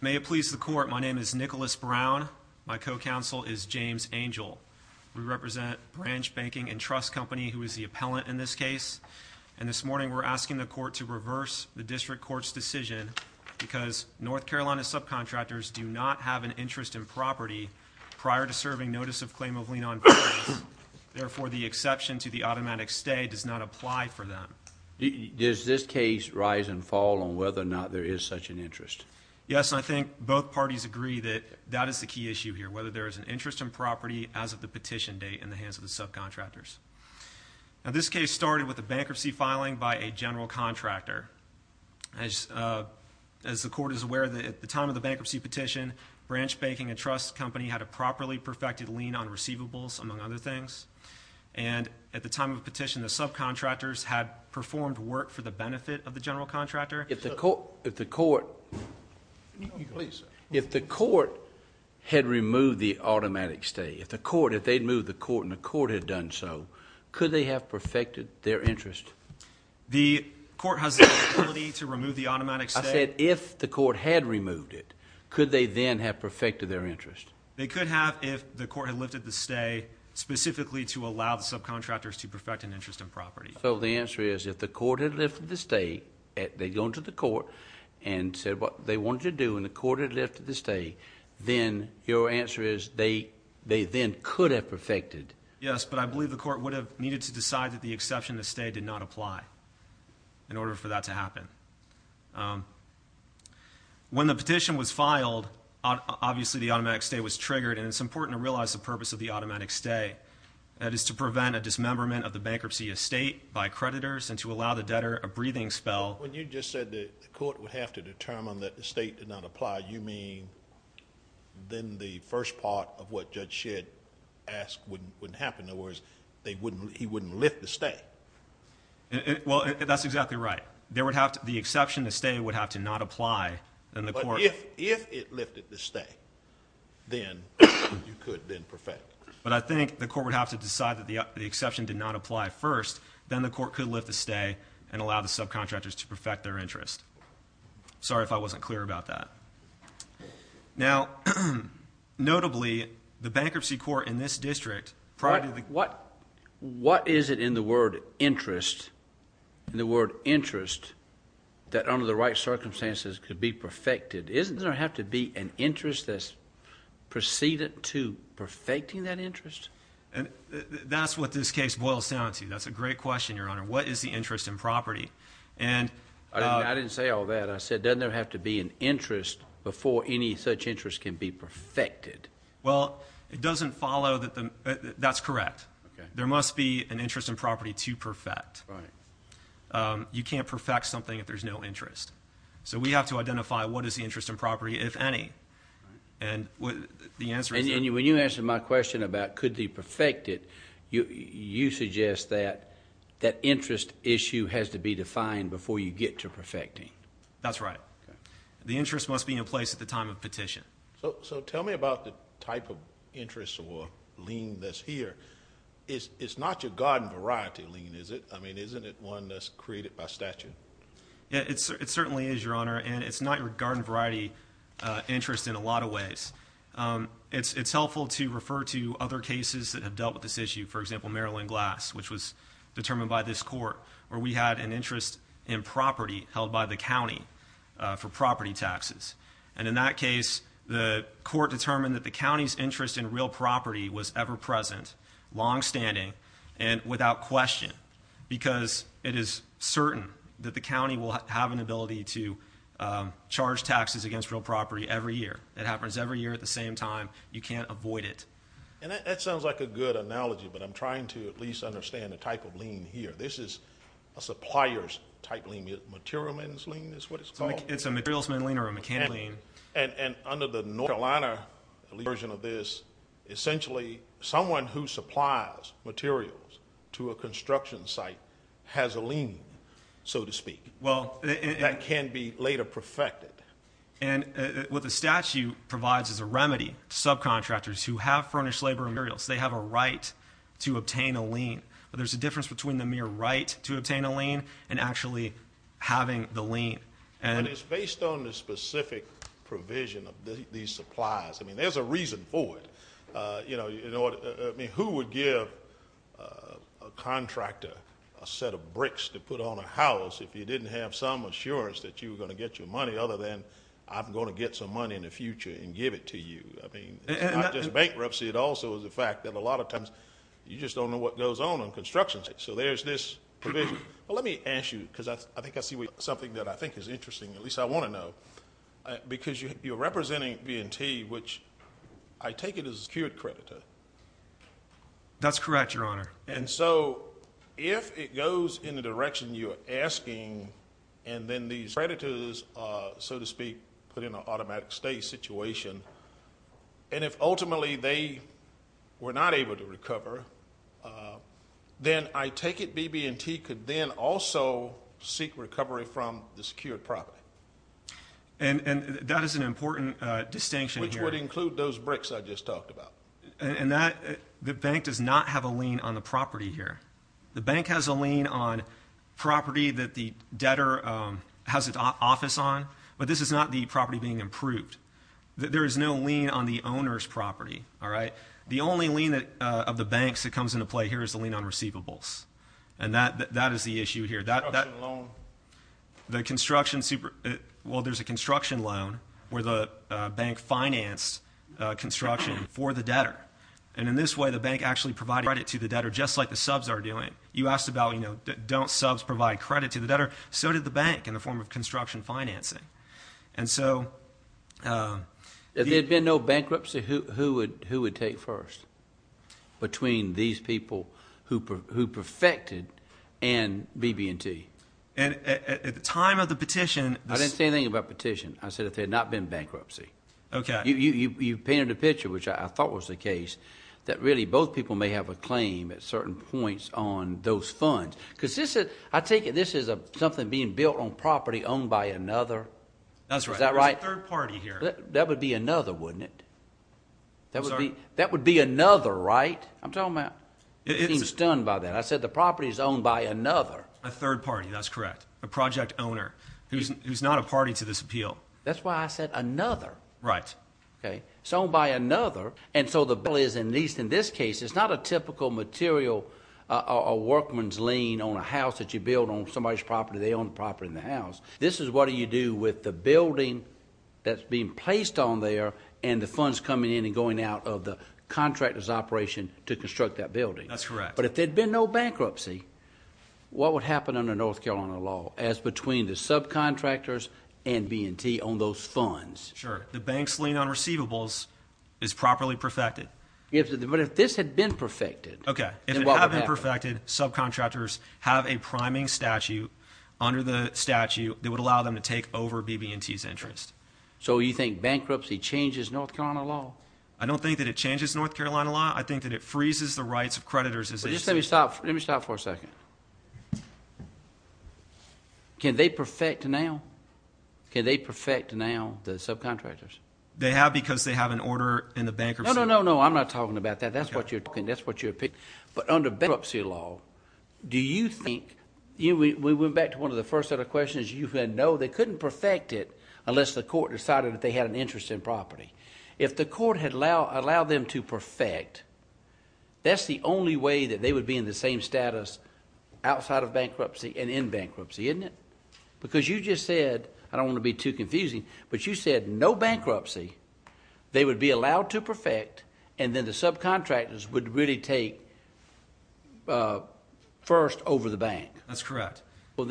May it please the Court, my name is Nicholas Brown. My co-counsel is James Angel. We represent Branch Banking & Trust Company, who is the appellant in this case. And this morning we're asking the Court to reverse the District Court's decision because North Carolina subcontractors do not have an interest in property prior to serving notice of claim of lien on balance. Therefore, the exception to the automatic stay does not apply for them. Does this case rise and fall on whether or not there is such an interest? Yes, and I think both parties agree that that is the key issue here, whether there is an interest in property as of the petition date in the hands of the subcontractors. Now this case started with a bankruptcy filing by a general contractor. As the Court is aware, at the time of the bankruptcy petition, Branch Banking & Trust Company had a properly perfected lien on receivables, among other things. And at the time of the petition, the subcontractors had performed work for the benefit of the general contractor. If the Court had removed the automatic stay, if they'd moved the Court and the Court had done so, could they have perfected their interest? The Court has the authority to remove the automatic stay? I said if the Court had removed it, could they then have perfected their interest? They could have if the Court had lifted the stay specifically to allow the subcontractors to perfect an interest in property. So the answer is if the Court had lifted the stay, they'd gone to the Court and said what they wanted to do and the Court had lifted the stay, then your answer is they then could have perfected. Yes, but I believe the Court would have needed to decide that the exception to stay did not apply in order for that to happen. When the petition was filed, obviously the automatic stay was triggered, and it's important to realize the purpose of the automatic stay. That is to prevent a dismemberment of the bankruptcy estate by creditors and to allow the debtor a breathing spell. When you just said the Court would have to determine that the estate did not apply, you mean then the first part of what Judge Shedd asked wouldn't happen? In other words, he wouldn't lift the stay? Well, that's exactly right. The exception to stay would have to not apply. But if it lifted the stay, then you could then perfect. But I think the Court would have to decide that the exception did not apply first, then the Court could lift the stay and allow the subcontractors to perfect their interest. Sorry if I wasn't clear about that. Now, notably, the Bankruptcy Court in this district… What is it in the word interest that under the right circumstances could be perfected? Doesn't there have to be an interest that's preceded to perfecting that interest? That's what this case boils down to. That's a great question, Your Honor. What is the interest in property? I didn't say all that. I said, doesn't there have to be an interest before any such interest can be perfected? Well, it doesn't follow that. That's correct. There must be an interest in property to perfect. Right. You can't perfect something if there's no interest. So we have to identify what is the interest in property, if any. And the answer is… And when you answered my question about could be perfected, you suggest that that interest issue has to be defined before you get to perfecting. That's right. The interest must be in place at the time of petition. So tell me about the type of interest or lien that's here. It's not your garden variety lien, is it? I mean, isn't it one that's created by statute? It certainly is, Your Honor, and it's not your garden variety interest in a lot of ways. It's helpful to refer to other cases that have dealt with this issue. For example, Maryland Glass, which was determined by this court, where we had an interest in property held by the county for property taxes. And in that case, the court determined that the county's interest in real property was ever-present, longstanding, and without question because it is certain that the county will have an ability to charge taxes against real property every year. It happens every year at the same time. You can't avoid it. And that sounds like a good analogy, but I'm trying to at least understand the type of lien here. This is a supplier's type lien. Material man's lien is what it's called. It's a materials man lien or a mechanic lien. And under the North Carolina version of this, essentially someone who supplies materials to a construction site has a lien, so to speak, that can be later perfected. And what the statute provides is a remedy to subcontractors who have furnished labor materials. They have a right to obtain a lien. But there's a difference between the mere right to obtain a lien and actually having the lien. And it's based on the specific provision of these supplies. I mean, there's a reason for it. You know, who would give a contractor a set of bricks to put on a house if you didn't have some assurance that you were going to get your money other than I'm going to get some money in the future and give it to you? I mean, it's not just bankruptcy. It also is the fact that a lot of times you just don't know what goes on on construction sites. So there's this provision. Well, let me ask you, because I think I see something that I think is interesting, at least I want to know, because you're representing B&T, which I take it is a secured creditor. That's correct, Your Honor. And so if it goes in the direction you're asking and then these creditors, so to speak, put in an automatic stay situation, and if ultimately they were not able to recover, then I take it B&T could then also seek recovery from the secured property. And that is an important distinction here. Which would include those bricks I just talked about. The bank does not have a lien on the property here. The bank has a lien on property that the debtor has an office on, but this is not the property being approved. There is no lien on the owner's property. The only lien of the bank that comes into play here is the lien on receivables, and that is the issue here. Construction loan. Well, there's a construction loan where the bank financed construction for the debtor, and in this way the bank actually provided credit to the debtor just like the subs are doing. You asked about, you know, don't subs provide credit to the debtor? So did the bank in the form of construction financing. If there had been no bankruptcy, who would take first between these people who perfected and B&T? At the time of the petition. I didn't say anything about petition. I said if there had not been bankruptcy. Okay. You painted a picture, which I thought was the case, that really both people may have a claim at certain points on those funds. Because I take it this is something being built on property owned by another. That's right. Is that right? There's a third party here. That would be another, wouldn't it? I'm sorry? That would be another, right? I'm talking about being stunned by that. I said the property is owned by another. A third party. That's correct. A project owner who's not a party to this appeal. That's why I said another. Right. Okay. It's owned by another. And so the bill is, at least in this case, it's not a typical material or workman's lien on a house that you build on somebody's property. They own the property and the house. This is what you do with the building that's being placed on there and the funds coming in and going out of the contractor's operation to construct that building. That's correct. But if there had been no bankruptcy, what would happen under North Carolina law as between the subcontractors and B&T on those funds? Sure. The bank's lien on receivables is properly perfected. But if this had been perfected, then what would happen? Okay. If it had been perfected, subcontractors have a priming statute under the statute that would allow them to take over B&T's interest. So you think bankruptcy changes North Carolina law? I don't think that it changes North Carolina law. I think that it freezes the rights of creditors. Let me stop for a second. Can they perfect now? Can they perfect now, the subcontractors? They have because they have an order in the bankruptcy. No, no, no, no. I'm not talking about that. That's what you're talking about. That's what you're picking. But under bankruptcy law, do you think we went back to one of the first set of questions. You know they couldn't perfect it unless the court decided that they had an interest in property. If the court had allowed them to perfect, that's the only way that they would be in the same status outside of bankruptcy and in bankruptcy, isn't it? Because you just said, I don't want to be too confusing, but you said no bankruptcy, they would be allowed to perfect, and then the subcontractors would really take first over the bank. That's correct. But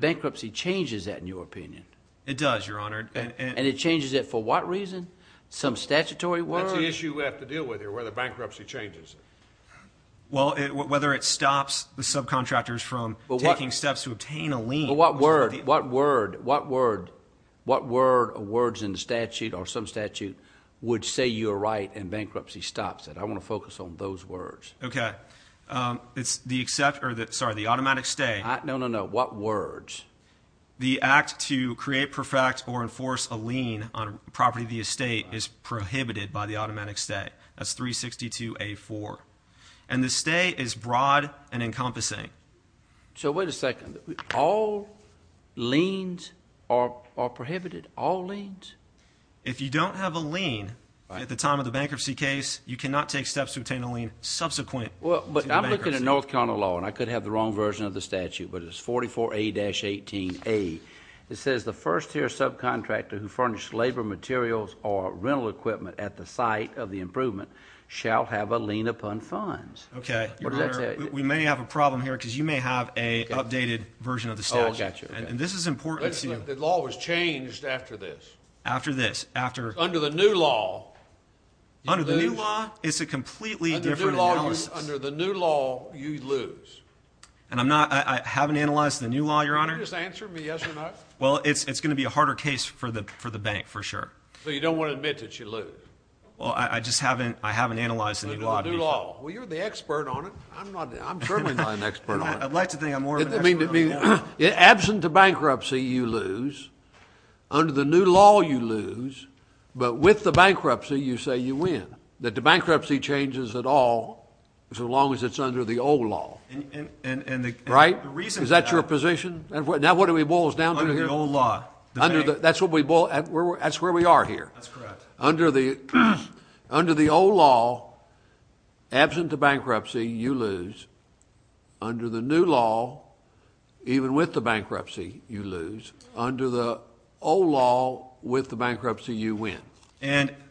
bankruptcy changes that in your opinion. It does, Your Honor. And it changes it for what reason? Some statutory word? That's the issue we have to deal with here, whether bankruptcy changes it. Well, whether it stops the subcontractors from taking steps to obtain a lien. What word, what word, what word, what word or words in the statute or some statute would say you're right and bankruptcy stops it? I want to focus on those words. Okay. It's the automatic stay. No, no, no. What words? The act to create, perfect, or enforce a lien on property of the estate is prohibited by the automatic stay. That's 362A4. And the stay is broad and encompassing. So wait a second. All liens are prohibited, all liens? If you don't have a lien at the time of the bankruptcy case, you cannot take steps to obtain a lien subsequent to bankruptcy. Well, but I'm looking at North Carolina law, and I could have the wrong version of the statute, but it's 44A-18A. It says the first-tier subcontractor who furnished labor materials or rental equipment at the site of the improvement shall have a lien upon funds. Okay. Your Honor, we may have a problem here because you may have an updated version of the statute. Oh, I got you. And this is important to see. The law was changed after this. After this? Under the new law. Under the new law, it's a completely different analysis. Under the new law, you lose. And I haven't analyzed the new law, Your Honor. Can you just answer me yes or no? Well, it's going to be a harder case for the bank, for sure. So you don't want to admit that you lose? Well, I just haven't analyzed the new law. The new law. Well, you're the expert on it. I'm certainly not an expert on it. I'd like to think I'm more of an expert on it. Absent the bankruptcy, you lose. Under the new law, you lose. But with the bankruptcy, you say you win. That the bankruptcy changes at all so long as it's under the old law. Right? Is that your position? Now what do we boil us down to here? Under the old law. That's where we are here. That's correct. Under the old law, absent the bankruptcy, you lose. Under the new law, even with the bankruptcy, you lose. Under the old law, with the bankruptcy, you win.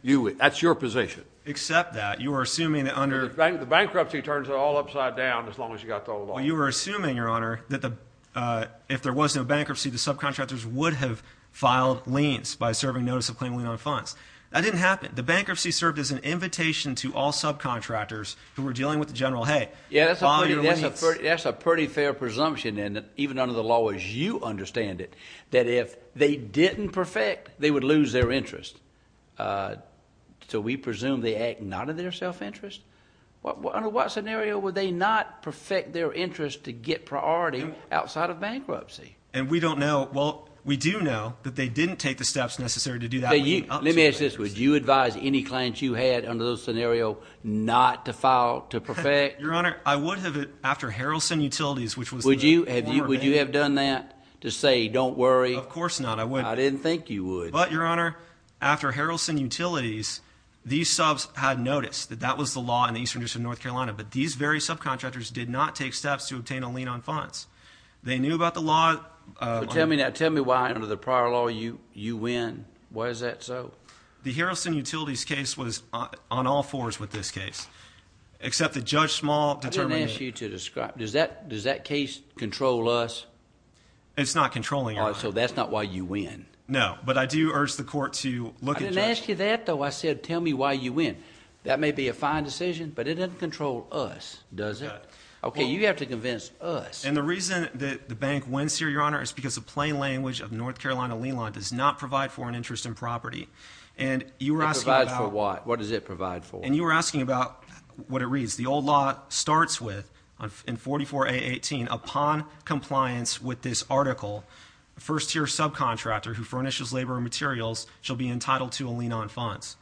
You win. That's your position. Except that. You were assuming that under. The bankruptcy turns it all upside down as long as you got the old law. Well, you were assuming, Your Honor, that if there was no bankruptcy, the subcontractors would have filed liens by serving notice of claiming lien on funds. That didn't happen. The bankruptcy served as an invitation to all subcontractors who were dealing with the general, hey, file your liens. That's a pretty fair presumption, and even under the law as you understand it, that if they didn't perfect, they would lose their interest. So we presume they acted not of their self-interest? Under what scenario would they not perfect their interest to get priority outside of bankruptcy? And we don't know. Well, we do know that they didn't take the steps necessary to do that. Let me ask you this. Would you advise any clients you had under those scenarios not to file, to perfect? Your Honor, I would have, after Harrelson Utilities, which was the former bank. Would you have done that to say don't worry? Of course not. I wouldn't. I didn't think you would. But, Your Honor, after Harrelson Utilities, these subs had noticed that that was the law in the eastern district of North Carolina, but these very subcontractors did not take steps to obtain a lien on funds. They knew about the law. Tell me why under the prior law you win. Why is that so? The Harrelson Utilities case was on all fours with this case, except that Judge Small determined. I didn't ask you to describe. Does that case control us? It's not controlling us. So that's not why you win. No, but I do urge the court to look at Judge Small. I didn't ask you that, though. I said tell me why you win. That may be a fine decision, but it doesn't control us, does it? Okay, you have to convince us. And the reason that the bank wins here, Your Honor, is because the plain language of North Carolina lien law does not provide for an interest in property. And you were asking about. It provides for what? What does it provide for? And you were asking about what it reads. The old law starts with, in 44A.18, upon compliance with this article, first-tier subcontractor who furnishes labor and materials shall be entitled to a lien on funds.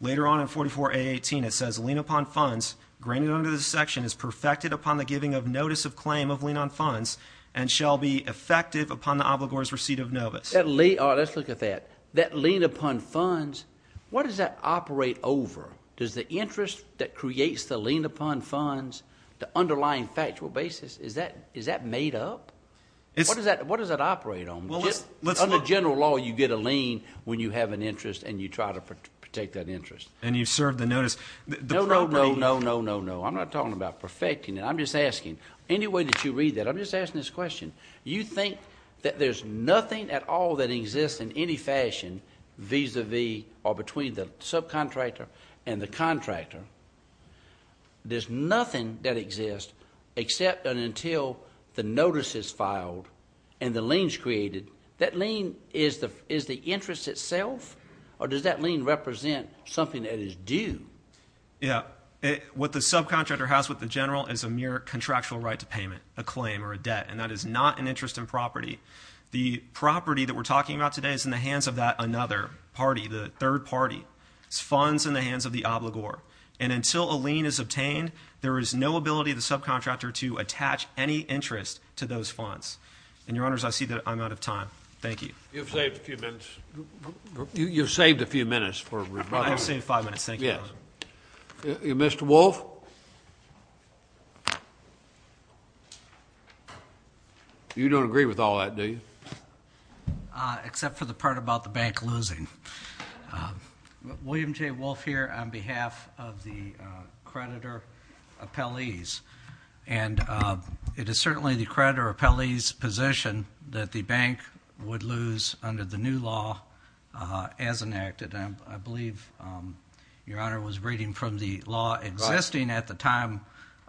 Later on in 44A.18, it says lien upon funds granted under this section is perfected upon the giving of notice of claim of lien on funds and shall be effective upon the obligor's receipt of novice. Let's look at that. That lien upon funds, what does that operate over? Does the interest that creates the lien upon funds, the underlying factual basis, is that made up? What does that operate on? Under general law, you get a lien when you have an interest and you try to protect that interest. And you serve the notice. No, no, no, no, no, no. I'm not talking about perfecting it. I'm just asking. Any way that you read that, I'm just asking this question. You think that there's nothing at all that exists in any fashion vis-à-vis or between the subcontractor and the contractor. There's nothing that exists except and until the notice is filed and the lien is created. That lien is the interest itself? Or does that lien represent something that is due? Yeah. What the subcontractor has with the general is a mere contractual right to payment, a claim or a debt, and that is not an interest in property. The property that we're talking about today is in the hands of that another party, the third party. It's funds in the hands of the obligor. And until a lien is obtained, there is no ability of the subcontractor to attach any interest to those funds. And, Your Honors, I see that I'm out of time. Thank you. You've saved a few minutes. You've saved a few minutes for rebuttal. I have saved five minutes. Thank you. Mr. Wolfe? You don't agree with all that, do you? Except for the part about the bank losing. William J. Wolfe here on behalf of the creditor appellees. And it is certainly the creditor appellee's position that the bank would lose under the new law as enacted. I believe, Your Honor, was reading from the law existing at the time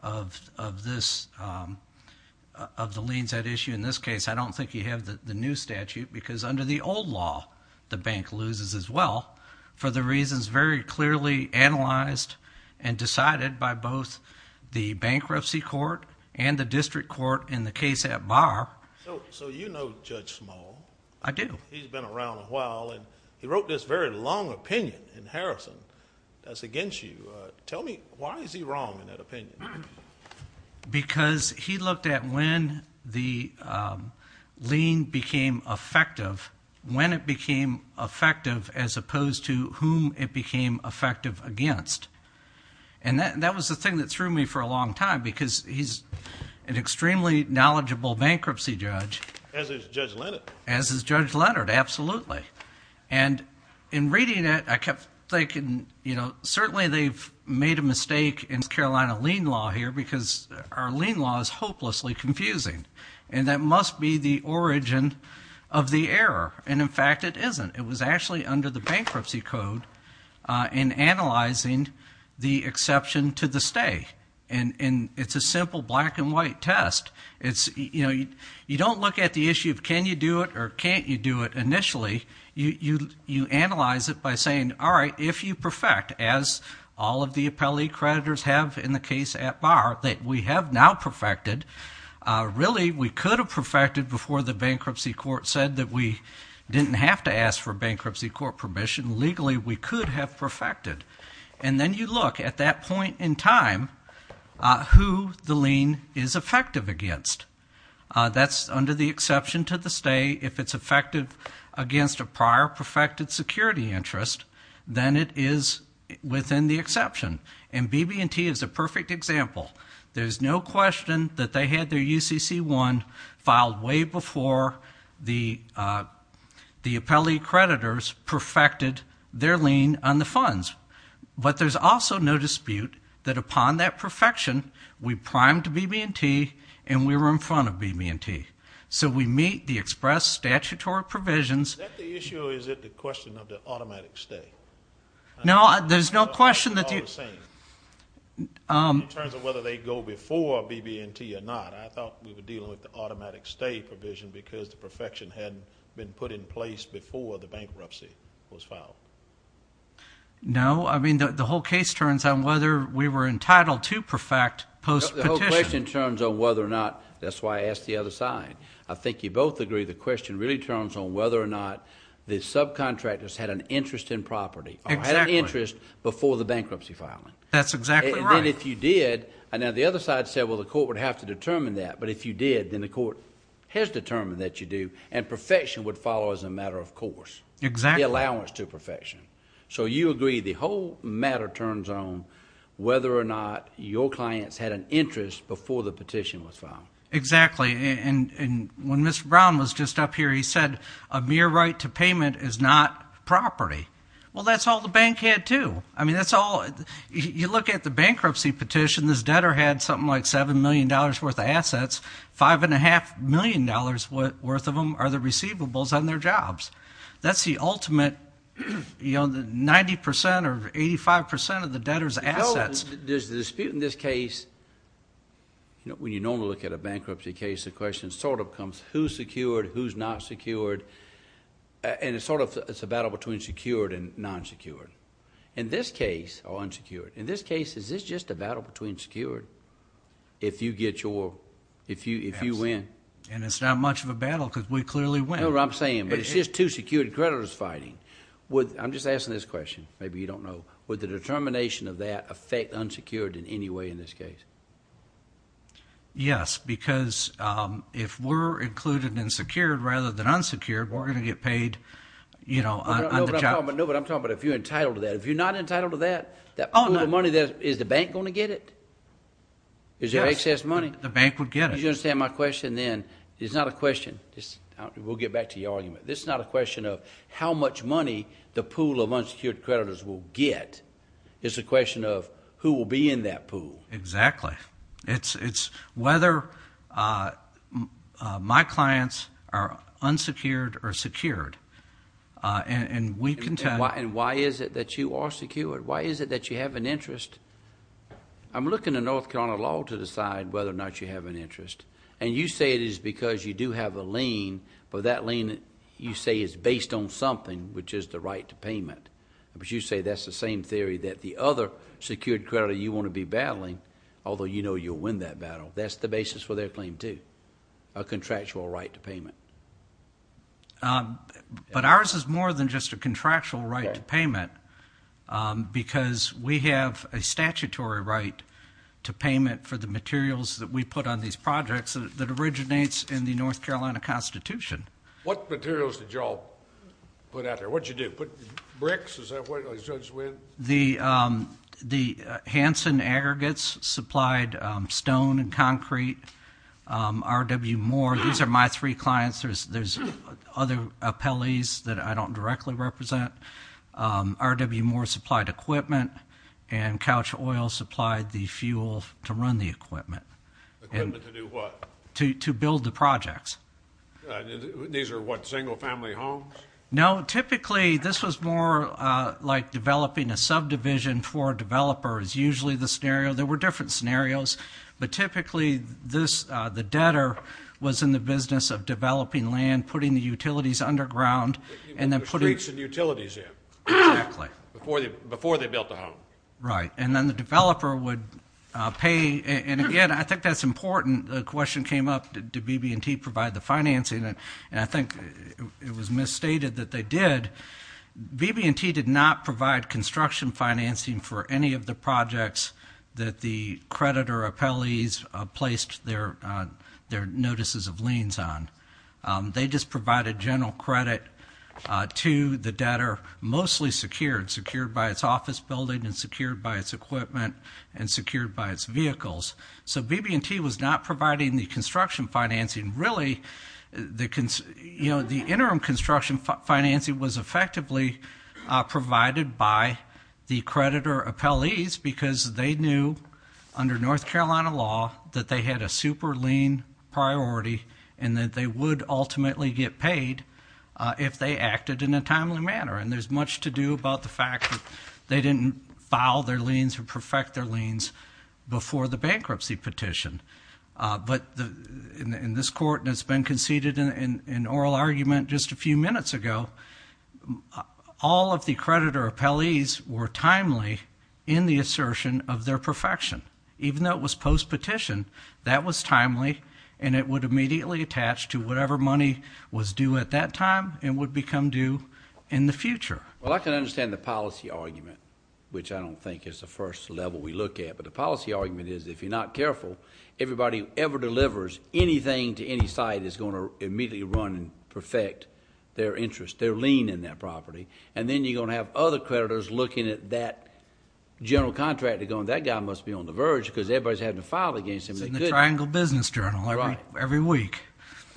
of this, of the liens at issue. In this case, I don't think you have the new statute because under the old law, the bank loses as well for the reasons very clearly analyzed and decided by both the bankruptcy court and the district court in the case at Barr. So you know Judge Small. I do. He's been around a while, and he wrote this very long opinion in Harrison that's against you. Tell me, why is he wrong in that opinion? Because he looked at when the lien became effective, when it became effective as opposed to whom it became effective against. And that was the thing that threw me for a long time because he's an extremely knowledgeable bankruptcy judge. As is Judge Leonard. As is Judge Leonard, absolutely. And in reading it, I kept thinking, you know, certainly they've made a mistake in Carolina lien law here because our lien law is hopelessly confusing. And that must be the origin of the error. And in fact, it isn't. It was actually under the bankruptcy code in analyzing the exception to the stay. And it's a simple black and white test. You don't look at the issue of can you do it or can't you do it initially. You analyze it by saying, all right, if you perfect, as all of the appellee creditors have in the case at Barr, that we have now perfected. Really, we could have perfected before the bankruptcy court said that we didn't have to ask for bankruptcy court permission. Legally, we could have perfected. And then you look at that point in time who the lien is effective against. That's under the exception to the stay. If it's effective against a prior perfected security interest, then it is within the exception. And BB&T is a perfect example. There's no question that they had their UCC-1 filed way before the appellee creditors perfected their lien on the funds. But there's also no dispute that upon that perfection, we primed BB&T and we were in front of BB&T. So we meet the express statutory provisions. Is that the issue, or is it the question of the automatic stay? No, there's no question that you – In terms of whether they go before BB&T or not, I thought we were dealing with the automatic stay provision because the perfection hadn't been put in place before the bankruptcy was filed. No, I mean the whole case turns on whether we were entitled to perfect post-petition. The whole question turns on whether or not – that's why I asked the other side. I think you both agree the question really turns on whether or not the subcontractors had an interest in property or had an interest before the bankruptcy filing. That's exactly right. And then if you did – now the other side said, well, the court would have to determine that. But if you did, then the court has determined that you do. And perfection would follow as a matter of course. Exactly. The allowance to perfection. So you agree the whole matter turns on whether or not your clients had an interest before the petition was filed. Exactly. And when Mr. Brown was just up here, he said a mere right to payment is not property. Well, that's all the bank had too. I mean that's all – you look at the bankruptcy petition. This debtor had something like $7 million worth of assets. $5.5 million worth of them are the receivables on their jobs. That's the ultimate 90% or 85% of the debtor's assets. Phil, there's a dispute in this case. When you normally look at a bankruptcy case, the question sort of comes who's secured, who's not secured. And it's sort of – it's a battle between secured and non-secured. In this case – or unsecured. In this case, is this just a battle between secured if you get your – if you win? And it's not much of a battle because we clearly win. That's what I'm saying. But it's just two secured creditors fighting. I'm just asking this question. Maybe you don't know. Would the determination of that affect unsecured in any way in this case? Yes, because if we're included in secured rather than unsecured, we're going to get paid on the job. No, but I'm talking about if you're entitled to that. If you're not entitled to that, that pool of money, is the bank going to get it? Is there excess money? The bank would get it. You understand my question then? It's not a question. We'll get back to your argument. This is not a question of how much money the pool of unsecured creditors will get. It's a question of who will be in that pool. Exactly. It's whether my clients are unsecured or secured. And we can tell. And why is it that you are secured? Why is it that you have an interest? I'm looking at North Carolina law to decide whether or not you have an interest. And you say it is because you do have a lien, but that lien you say is based on something, which is the right to payment. But you say that's the same theory that the other secured creditor you want to be battling, although you know you'll win that battle. That's the basis for their claim too, a contractual right to payment. But ours is more than just a contractual right to payment, because we have a statutory right to payment for the materials that we put on these projects that originates in the North Carolina Constitution. What materials did you all put out there? What did you do? Did you put bricks? Is that what you judged when? The Hansen aggregates supplied stone and concrete. RW Moore. These are my three clients. There's other appellees that I don't directly represent. RW Moore supplied equipment, and Couch Oil supplied the fuel to run the equipment. Equipment to do what? To build the projects. These are what, single-family homes? No. Typically this was more like developing a subdivision for a developer is usually the scenario. There were different scenarios. But typically the debtor was in the business of developing land, putting the utilities underground. The streets and utilities, yeah. Exactly. Before they built the home. Right. And then the developer would pay. And, again, I think that's important. The question came up, did BB&T provide the financing? And I think it was misstated that they did. BB&T did not provide construction financing for any of the projects that the creditor appellees placed their notices of liens on. They just provided general credit to the debtor, mostly secured. Secured by its office building and secured by its equipment and secured by its vehicles. So BB&T was not providing the construction financing. Really, the interim construction financing was effectively provided by the creditor appellees because they knew under North Carolina law that they had a super lien priority and that they would ultimately get paid if they acted in a timely manner. And there's much to do about the fact that they didn't file their liens or perfect their liens before the bankruptcy petition. But in this court, and it's been conceded in oral argument just a few minutes ago, all of the creditor appellees were timely in the assertion of their perfection. Even though it was post-petition, that was timely, and it would immediately attach to whatever money was due at that time and would become due in the future. Well, I can understand the policy argument, which I don't think is the first level we look at. But the policy argument is if you're not careful, everybody who ever delivers anything to any site is going to immediately run and perfect their interest, their lien in that property. And then you're going to have other creditors looking at that general contract and going, that guy must be on the verge because everybody's having to file against him. It's in the Triangle Business Journal every week.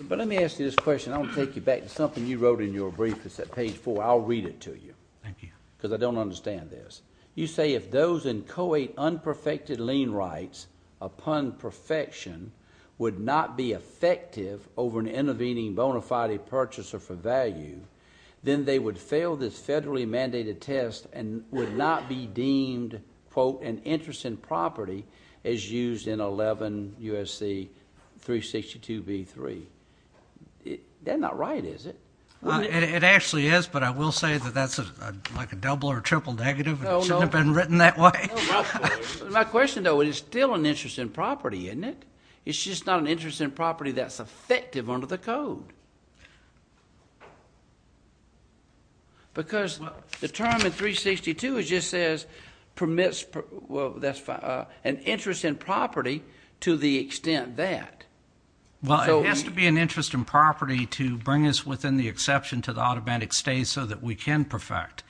But let me ask you this question. I want to take you back to something you wrote in your brief. It's at page 4. I'll read it to you. Thank you. Because I don't understand this. You say if those in co-aid unperfected lien rights upon perfection would not be effective over an intervening bona fide purchaser for value, then they would fail this federally mandated test and would not be deemed an interest in property as used in 11 U.S.C. 362b3. That's not right, is it? It actually is, but I will say that that's like a double or triple negative. It shouldn't have been written that way. My question, though, is it's still an interest in property, isn't it? It's just not an interest in property that's effective under the code. Because the term in 362 just says permits an interest in property to the extent that. Well, it has to be an interest in property to bring us within the exception to the automatic stay so that we can perfect.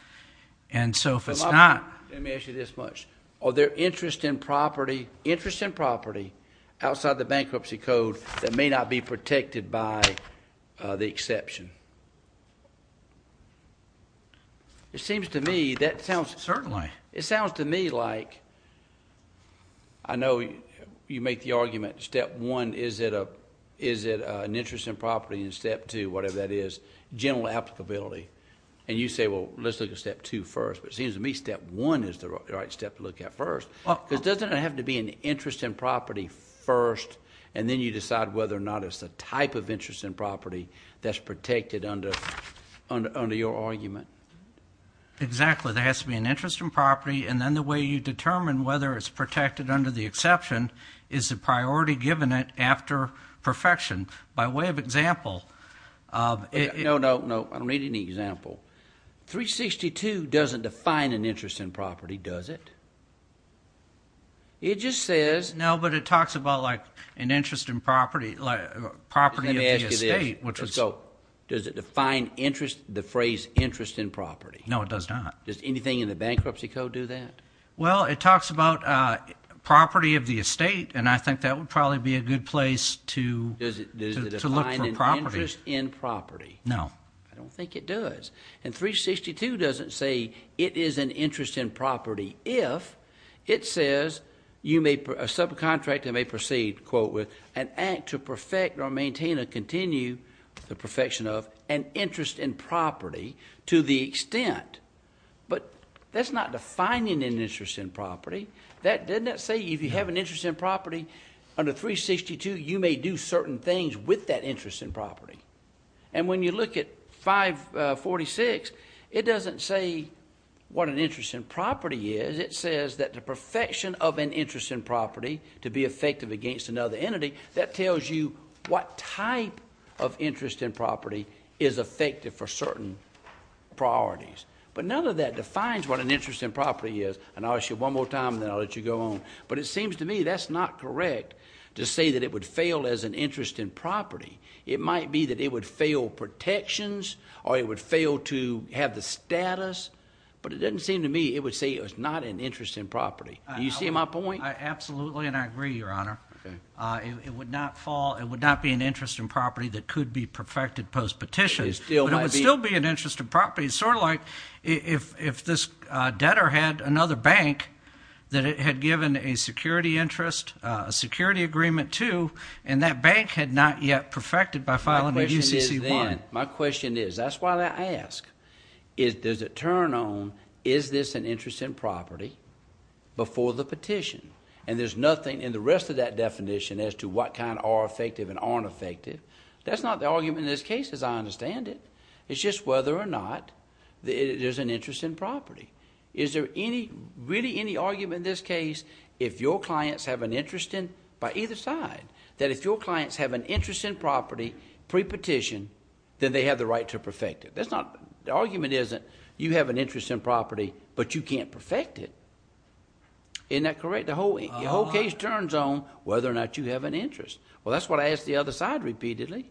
And so if it's not. Let me ask you this much. Are there interest in property outside the bankruptcy code that may not be protected by the exception? It seems to me that sounds. Certainly. It sounds to me like I know you make the argument step one, is it an interest in property in step two, whatever that is, general applicability. And you say, well, let's look at step two first. But it seems to me step one is the right step to look at first. It doesn't have to be an interest in property first, and then you decide whether or not it's a type of interest in property that's protected under your argument. Exactly. There has to be an interest in property, and then the way you determine whether it's protected under the exception is the priority given it after perfection. By way of example. No, no, no. I don't need any example. 362 doesn't define an interest in property, does it? It just says. No, but it talks about like an interest in property, property of the estate. Does it define interest, the phrase interest in property? No, it does not. Does anything in the bankruptcy code do that? Well, it talks about property of the estate, and I think that would probably be a good place to look for property. Does it define an interest in property? No. I don't think it does. And 362 doesn't say it is an interest in property if it says a subcontractor may proceed, quote, with an act to perfect or maintain or continue the perfection of an interest in property to the extent. But that's not defining an interest in property. Doesn't that say if you have an interest in property under 362, you may do certain things with that interest in property? And when you look at 546, it doesn't say what an interest in property is. It says that the perfection of an interest in property to be effective against another entity, that tells you what type of interest in property is effective for certain priorities. But none of that defines what an interest in property is. And I'll ask you one more time, and then I'll let you go on. But it seems to me that's not correct to say that it would fail as an interest in property. It might be that it would fail protections or it would fail to have the status, but it doesn't seem to me it would say it was not an interest in property. Do you see my point? Absolutely, and I agree, Your Honor. Okay. It would not fall. It would not be an interest in property that could be perfected post-petition. It still might be. But it would still be an interest in property. It's sort of like if this debtor had another bank that it had given a security interest, a security agreement to, and that bank had not yet perfected by filing a UCC-1. My question is then, my question is, that's why I ask, is does it turn on is this an interest in property before the petition? And there's nothing in the rest of that definition as to what kind are effective and aren't effective. That's not the argument in this case, as I understand it. It's just whether or not there's an interest in property. Is there really any argument in this case if your clients have an interest in, by either side, that if your clients have an interest in property pre-petition, then they have the right to perfect it? The argument isn't you have an interest in property, but you can't perfect it. Isn't that correct? The whole case turns on whether or not you have an interest. Well, that's what I ask the other side repeatedly.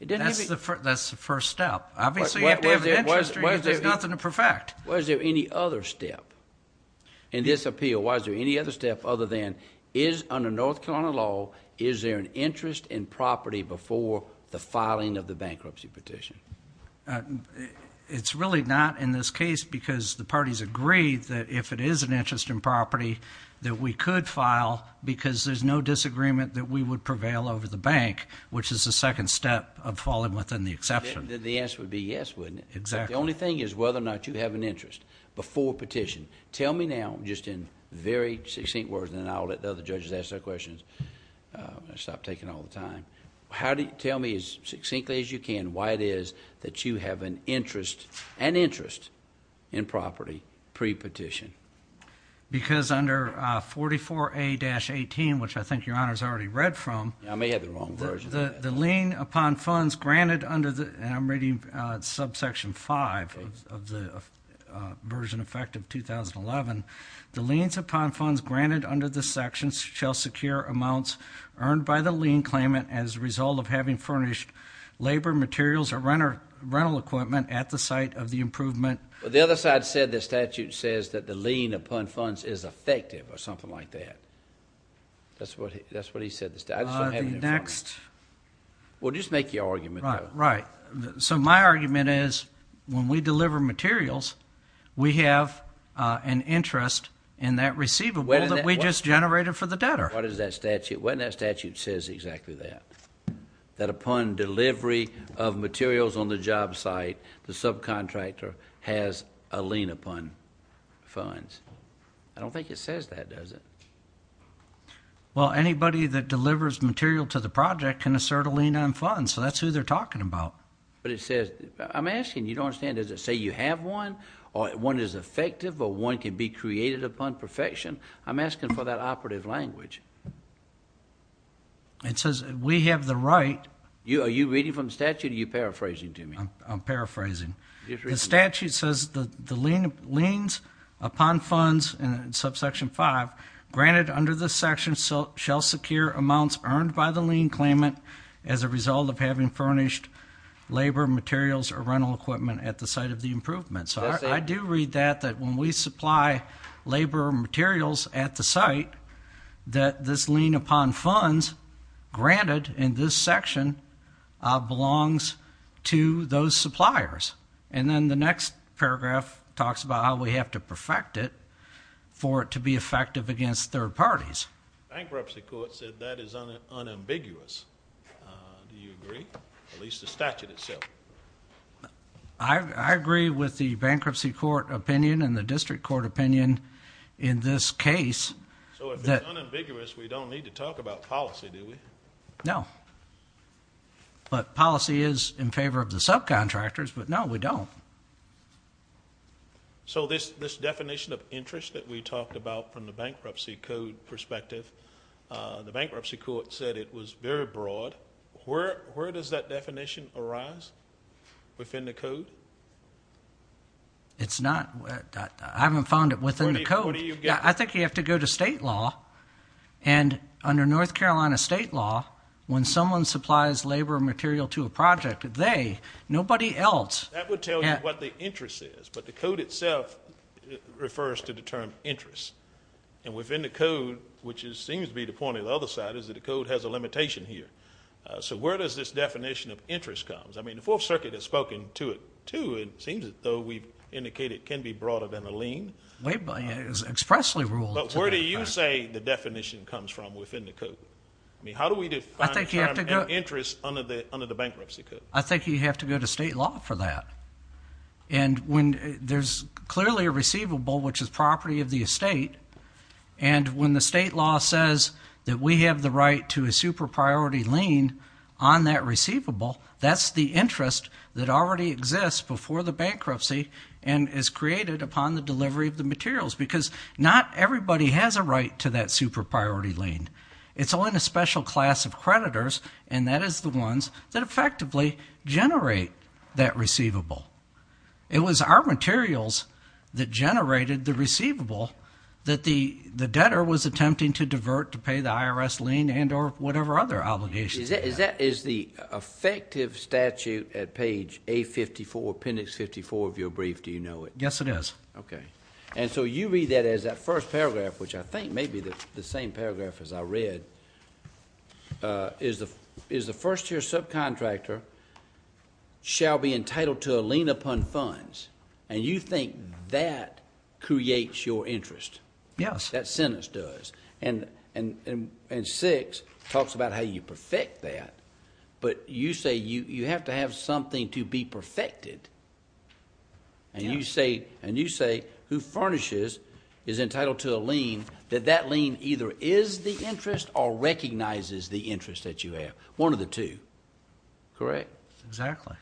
That's the first step. Obviously, you have to have an interest or there's nothing to perfect. Was there any other step in this appeal? Was there any other step other than is under North Carolina law, is there an interest in property before the filing of the bankruptcy petition? It's really not in this case because the parties agreed that if it is an interest in property, that we could file because there's no disagreement that we would prevail over the bank, which is the second step of falling within the exception. The answer would be yes, wouldn't it? Exactly. The only thing is whether or not you have an interest before petition. Tell me now, just in very succinct words, and then I'll let the other judges ask their questions and stop taking all the time. Tell me as succinctly as you can why it is that you have an interest in property pre-petition. Because under 44A-18, which I think Your Honor has already read from, I may have the wrong version. The lien upon funds granted under the, and I'm reading subsection 5 of the version effective 2011, the liens upon funds granted under this section shall secure amounts earned by the lien claimant as a result of having furnished labor materials or rental equipment at the site of the improvement. The other side said the statute says that the lien upon funds is effective or something like that. That's what he said. Next. Well, just make your argument. Right. So my argument is when we deliver materials, we have an interest in that receivable that we just generated for the debtor. What does that statute, what in that statute says exactly that? That upon delivery of materials on the job site, the subcontractor has a lien upon funds. I don't think it says that, does it? Well, anybody that delivers material to the project can assert a lien on funds, so that's who they're talking about. But it says, I'm asking, you don't understand, does it say you have one or one is effective or one can be created upon perfection? I'm asking for that operative language. It says we have the right. Are you reading from the statute or are you paraphrasing to me? I'm paraphrasing. The statute says the liens upon funds in subsection five granted under this section shall secure amounts earned by the lien claimant as a result of having furnished labor, materials, or rental equipment at the site of the improvement. So I do read that, that when we supply labor materials at the site, that this lien upon funds granted in this section belongs to those suppliers. And then the next paragraph talks about how we have to perfect it for it to be effective against third parties. Bankruptcy court said that is unambiguous. Do you agree? At least the statute itself. I agree with the bankruptcy court opinion and the district court opinion in this case. So if it's unambiguous, we don't need to talk about policy, do we? No. But policy is in favor of the subcontractors, but, no, we don't. So this definition of interest that we talked about from the bankruptcy code perspective, the bankruptcy court said it was very broad. Where does that definition arise within the code? It's not. I haven't found it within the code. I think you have to go to state law, and under North Carolina state law, when someone supplies labor material to a project, they, nobody else. That would tell you what the interest is. But the code itself refers to the term interest. And within the code, which seems to be the point of the other side, is that the code has a limitation here. So where does this definition of interest come? I mean, the Fourth Circuit has spoken to it, too. It seems as though we've indicated it can be broader than a lien. It was expressly ruled. But where do you say the definition comes from within the code? I mean, how do we define the term interest under the bankruptcy code? I think you have to go to state law for that. And when there's clearly a receivable, which is property of the estate, and when the state law says that we have the right to a super-priority lien on that receivable, that's the interest that already exists before the bankruptcy and is created upon the delivery of the materials, because not everybody has a right to that super-priority lien. It's only the special class of creditors, and that is the ones that effectively generate that receivable. It was our materials that generated the receivable that the debtor was attempting to divert to pay the IRS lien and or whatever other obligations. Is the effective statute at page A54, appendix 54 of your brief, do you know it? Yes, it is. Okay. And so you read that as that first paragraph, which I think may be the same paragraph as I read, is the first-year subcontractor shall be entitled to a lien upon funds. And you think that creates your interest. Yes. That sentence does. And 6 talks about how you perfect that. But you say you have to have something to be perfected. And you say who furnishes is entitled to a lien, that that lien either is the interest or recognizes the interest that you have. One of the two. Correct? Exactly.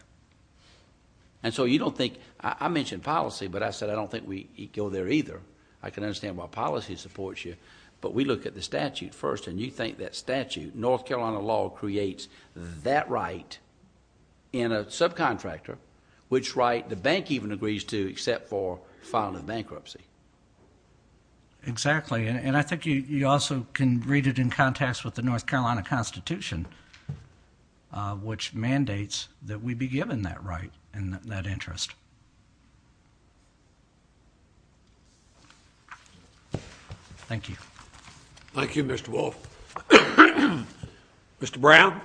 And so you don't think – I mentioned policy, but I said I don't think we go there either. I can understand why policy supports you. But we look at the statute first, and you think that statute, North Carolina law creates that right in a subcontractor, which right the bank even agrees to except for filing bankruptcy. Exactly. And I think you also can read it in context with the North Carolina Constitution, which mandates that we be given that right and that interest. Thank you. Thank you, Mr. Wolf. Mr. Brown.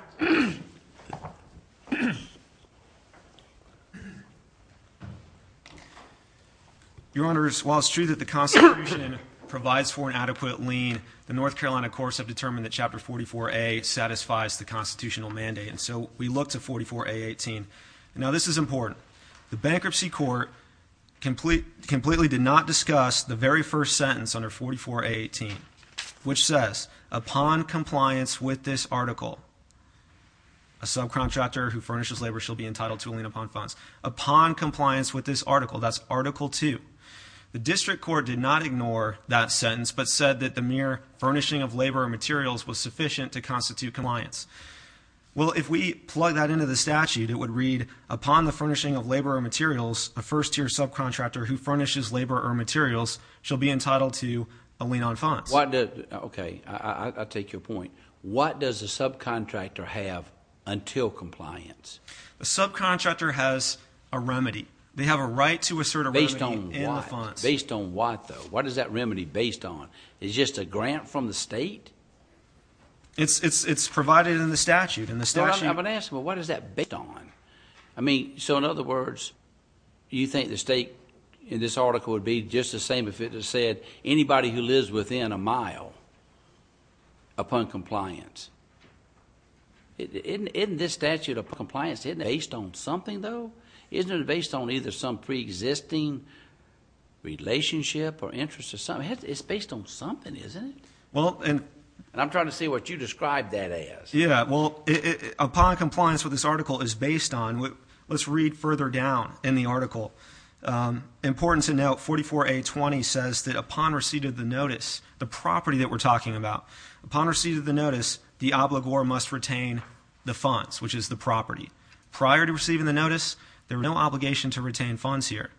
Your Honor, while it's true that the Constitution provides for an adequate lien, the North Carolina courts have determined that Chapter 44A satisfies the constitutional mandate. And so we look to 44A18. Now, this is important. The bankruptcy court completely did not discuss the very first sentence under 44A18, which says, upon compliance with this article, a subcontractor who furnishes labor shall be entitled to a lien upon funds. Upon compliance with this article, that's Article 2, the district court did not ignore that sentence but said that the mere furnishing of labor and materials was sufficient to constitute compliance. Well, if we plug that into the statute, it would read, upon the furnishing of labor and materials, a first-tier subcontractor who furnishes labor or materials shall be entitled to a lien on funds. Okay, I'll take your point. What does a subcontractor have until compliance? A subcontractor has a remedy. They have a right to assert a remedy in the funds. Based on what, though? What is that remedy based on? Is it just a grant from the state? It's provided in the statute. I'm going to ask, well, what is that based on? So, in other words, you think the state in this article would be just the same if it said anybody who lives within a mile upon compliance. Isn't this statute of compliance based on something, though? Isn't it based on either some preexisting relationship or interest or something? It's based on something, isn't it? I'm trying to see what you described that as. Yeah, well, upon compliance, what this article is based on, let's read further down in the article. Important to note, 44A20 says that upon receipt of the notice, the property that we're talking about, upon receipt of the notice, the obligor must retain the funds, which is the property. Prior to receiving the notice, there is no obligation to retain funds here.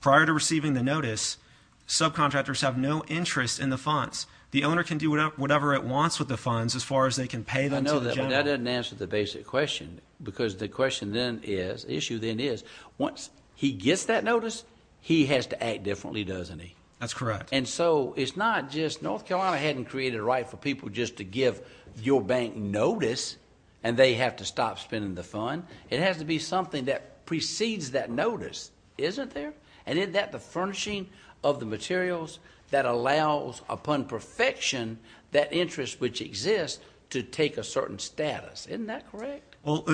Prior to receiving the notice, subcontractors have no interest in the funds. The owner can do whatever it wants with the funds as far as they can pay them to the general. That doesn't answer the basic question because the question then is, the issue then is, once he gets that notice, he has to act differently, doesn't he? That's correct. And so it's not just North Carolina hadn't created a right for people just to give your bank notice and they have to stop spending the fund. It has to be something that precedes that notice, isn't there? And isn't that the furnishing of the materials that allows, upon perfection, that interest which exists to take a certain status? Isn't that correct? Well,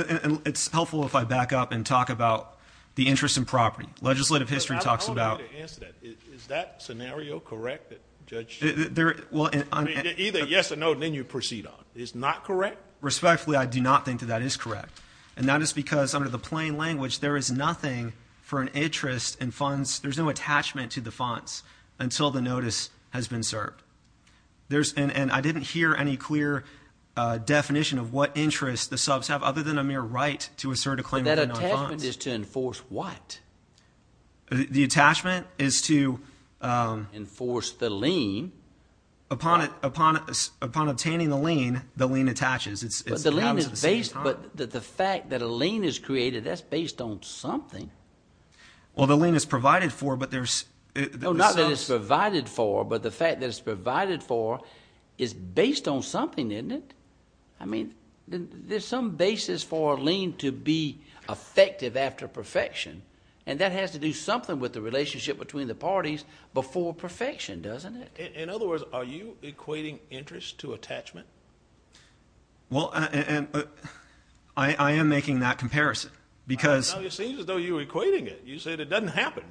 it's helpful if I back up and talk about the interest in property. Legislative history talks about – I don't know how to answer that. Is that scenario correct that Judge – Either yes or no, and then you proceed on. It's not correct? Respectfully, I do not think that that is correct. And that is because under the plain language, there is nothing for an interest in funds. There's no attachment to the funds until the notice has been served. And I didn't hear any clear definition of what interest the subs have other than a mere right to assert a claim. And that attachment is to enforce what? The attachment is to – Enforce the lien. Upon obtaining the lien, the lien attaches. But the fact that a lien is created, that's based on something. Well, the lien is provided for, but there's – Not that it's provided for, but the fact that it's provided for is based on something, isn't it? I mean, there's some basis for a lien to be effective after perfection. And that has to do something with the relationship between the parties before perfection, doesn't it? In other words, are you equating interest to attachment? Well, I am making that comparison because – It seems as though you're equating it. You said it doesn't happen.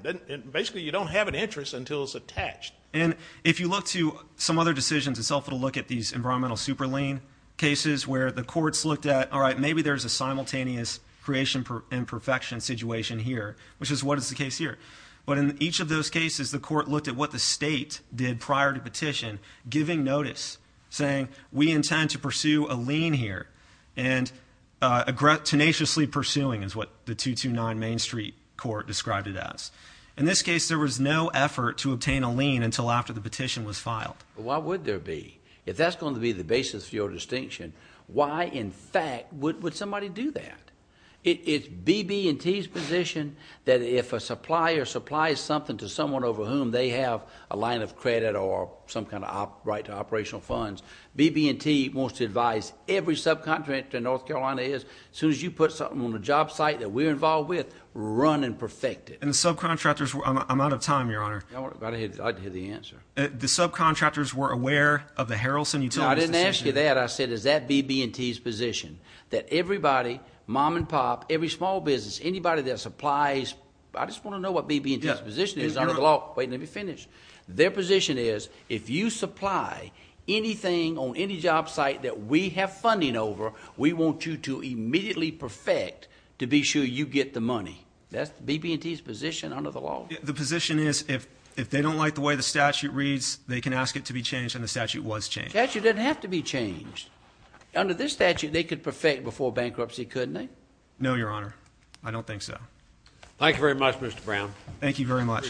Basically, you don't have an interest until it's attached. And if you look to some other decisions, it's helpful to look at these environmental super lien cases where the courts looked at, all right, maybe there's a simultaneous creation and perfection situation here, which is what is the case here. But in each of those cases, the court looked at what the state did prior to petition, giving notice, saying, we intend to pursue a lien here. And tenaciously pursuing is what the 229 Main Street Court described it as. In this case, there was no effort to obtain a lien until after the petition was filed. Why would there be? If that's going to be the basis for your distinction, why in fact would somebody do that? It's BB&T's position that if a supplier supplies something to someone over whom they have a line of credit or some kind of right to operational funds, BB&T wants to advise every subcontractor in North Carolina is, as soon as you put something on the job site that we're involved with, run and perfect it. And the subcontractors – I'm out of time, Your Honor. I'd like to hear the answer. The subcontractors were aware of the Harrelson Utilities decision. No, I didn't ask you that. I said, is that BB&T's position that everybody, mom and pop, every small business, anybody that supplies – I just want to know what BB&T's position is. Wait, let me finish. Their position is if you supply anything on any job site that we have funding over, we want you to immediately perfect to be sure you get the money. That's BB&T's position under the law. The position is if they don't like the way the statute reads, they can ask it to be changed, and the statute was changed. The statute doesn't have to be changed. Under this statute, they could perfect before bankruptcy, couldn't they? No, Your Honor. I don't think so. Thank you very much, Mr. Brown. Thank you very much.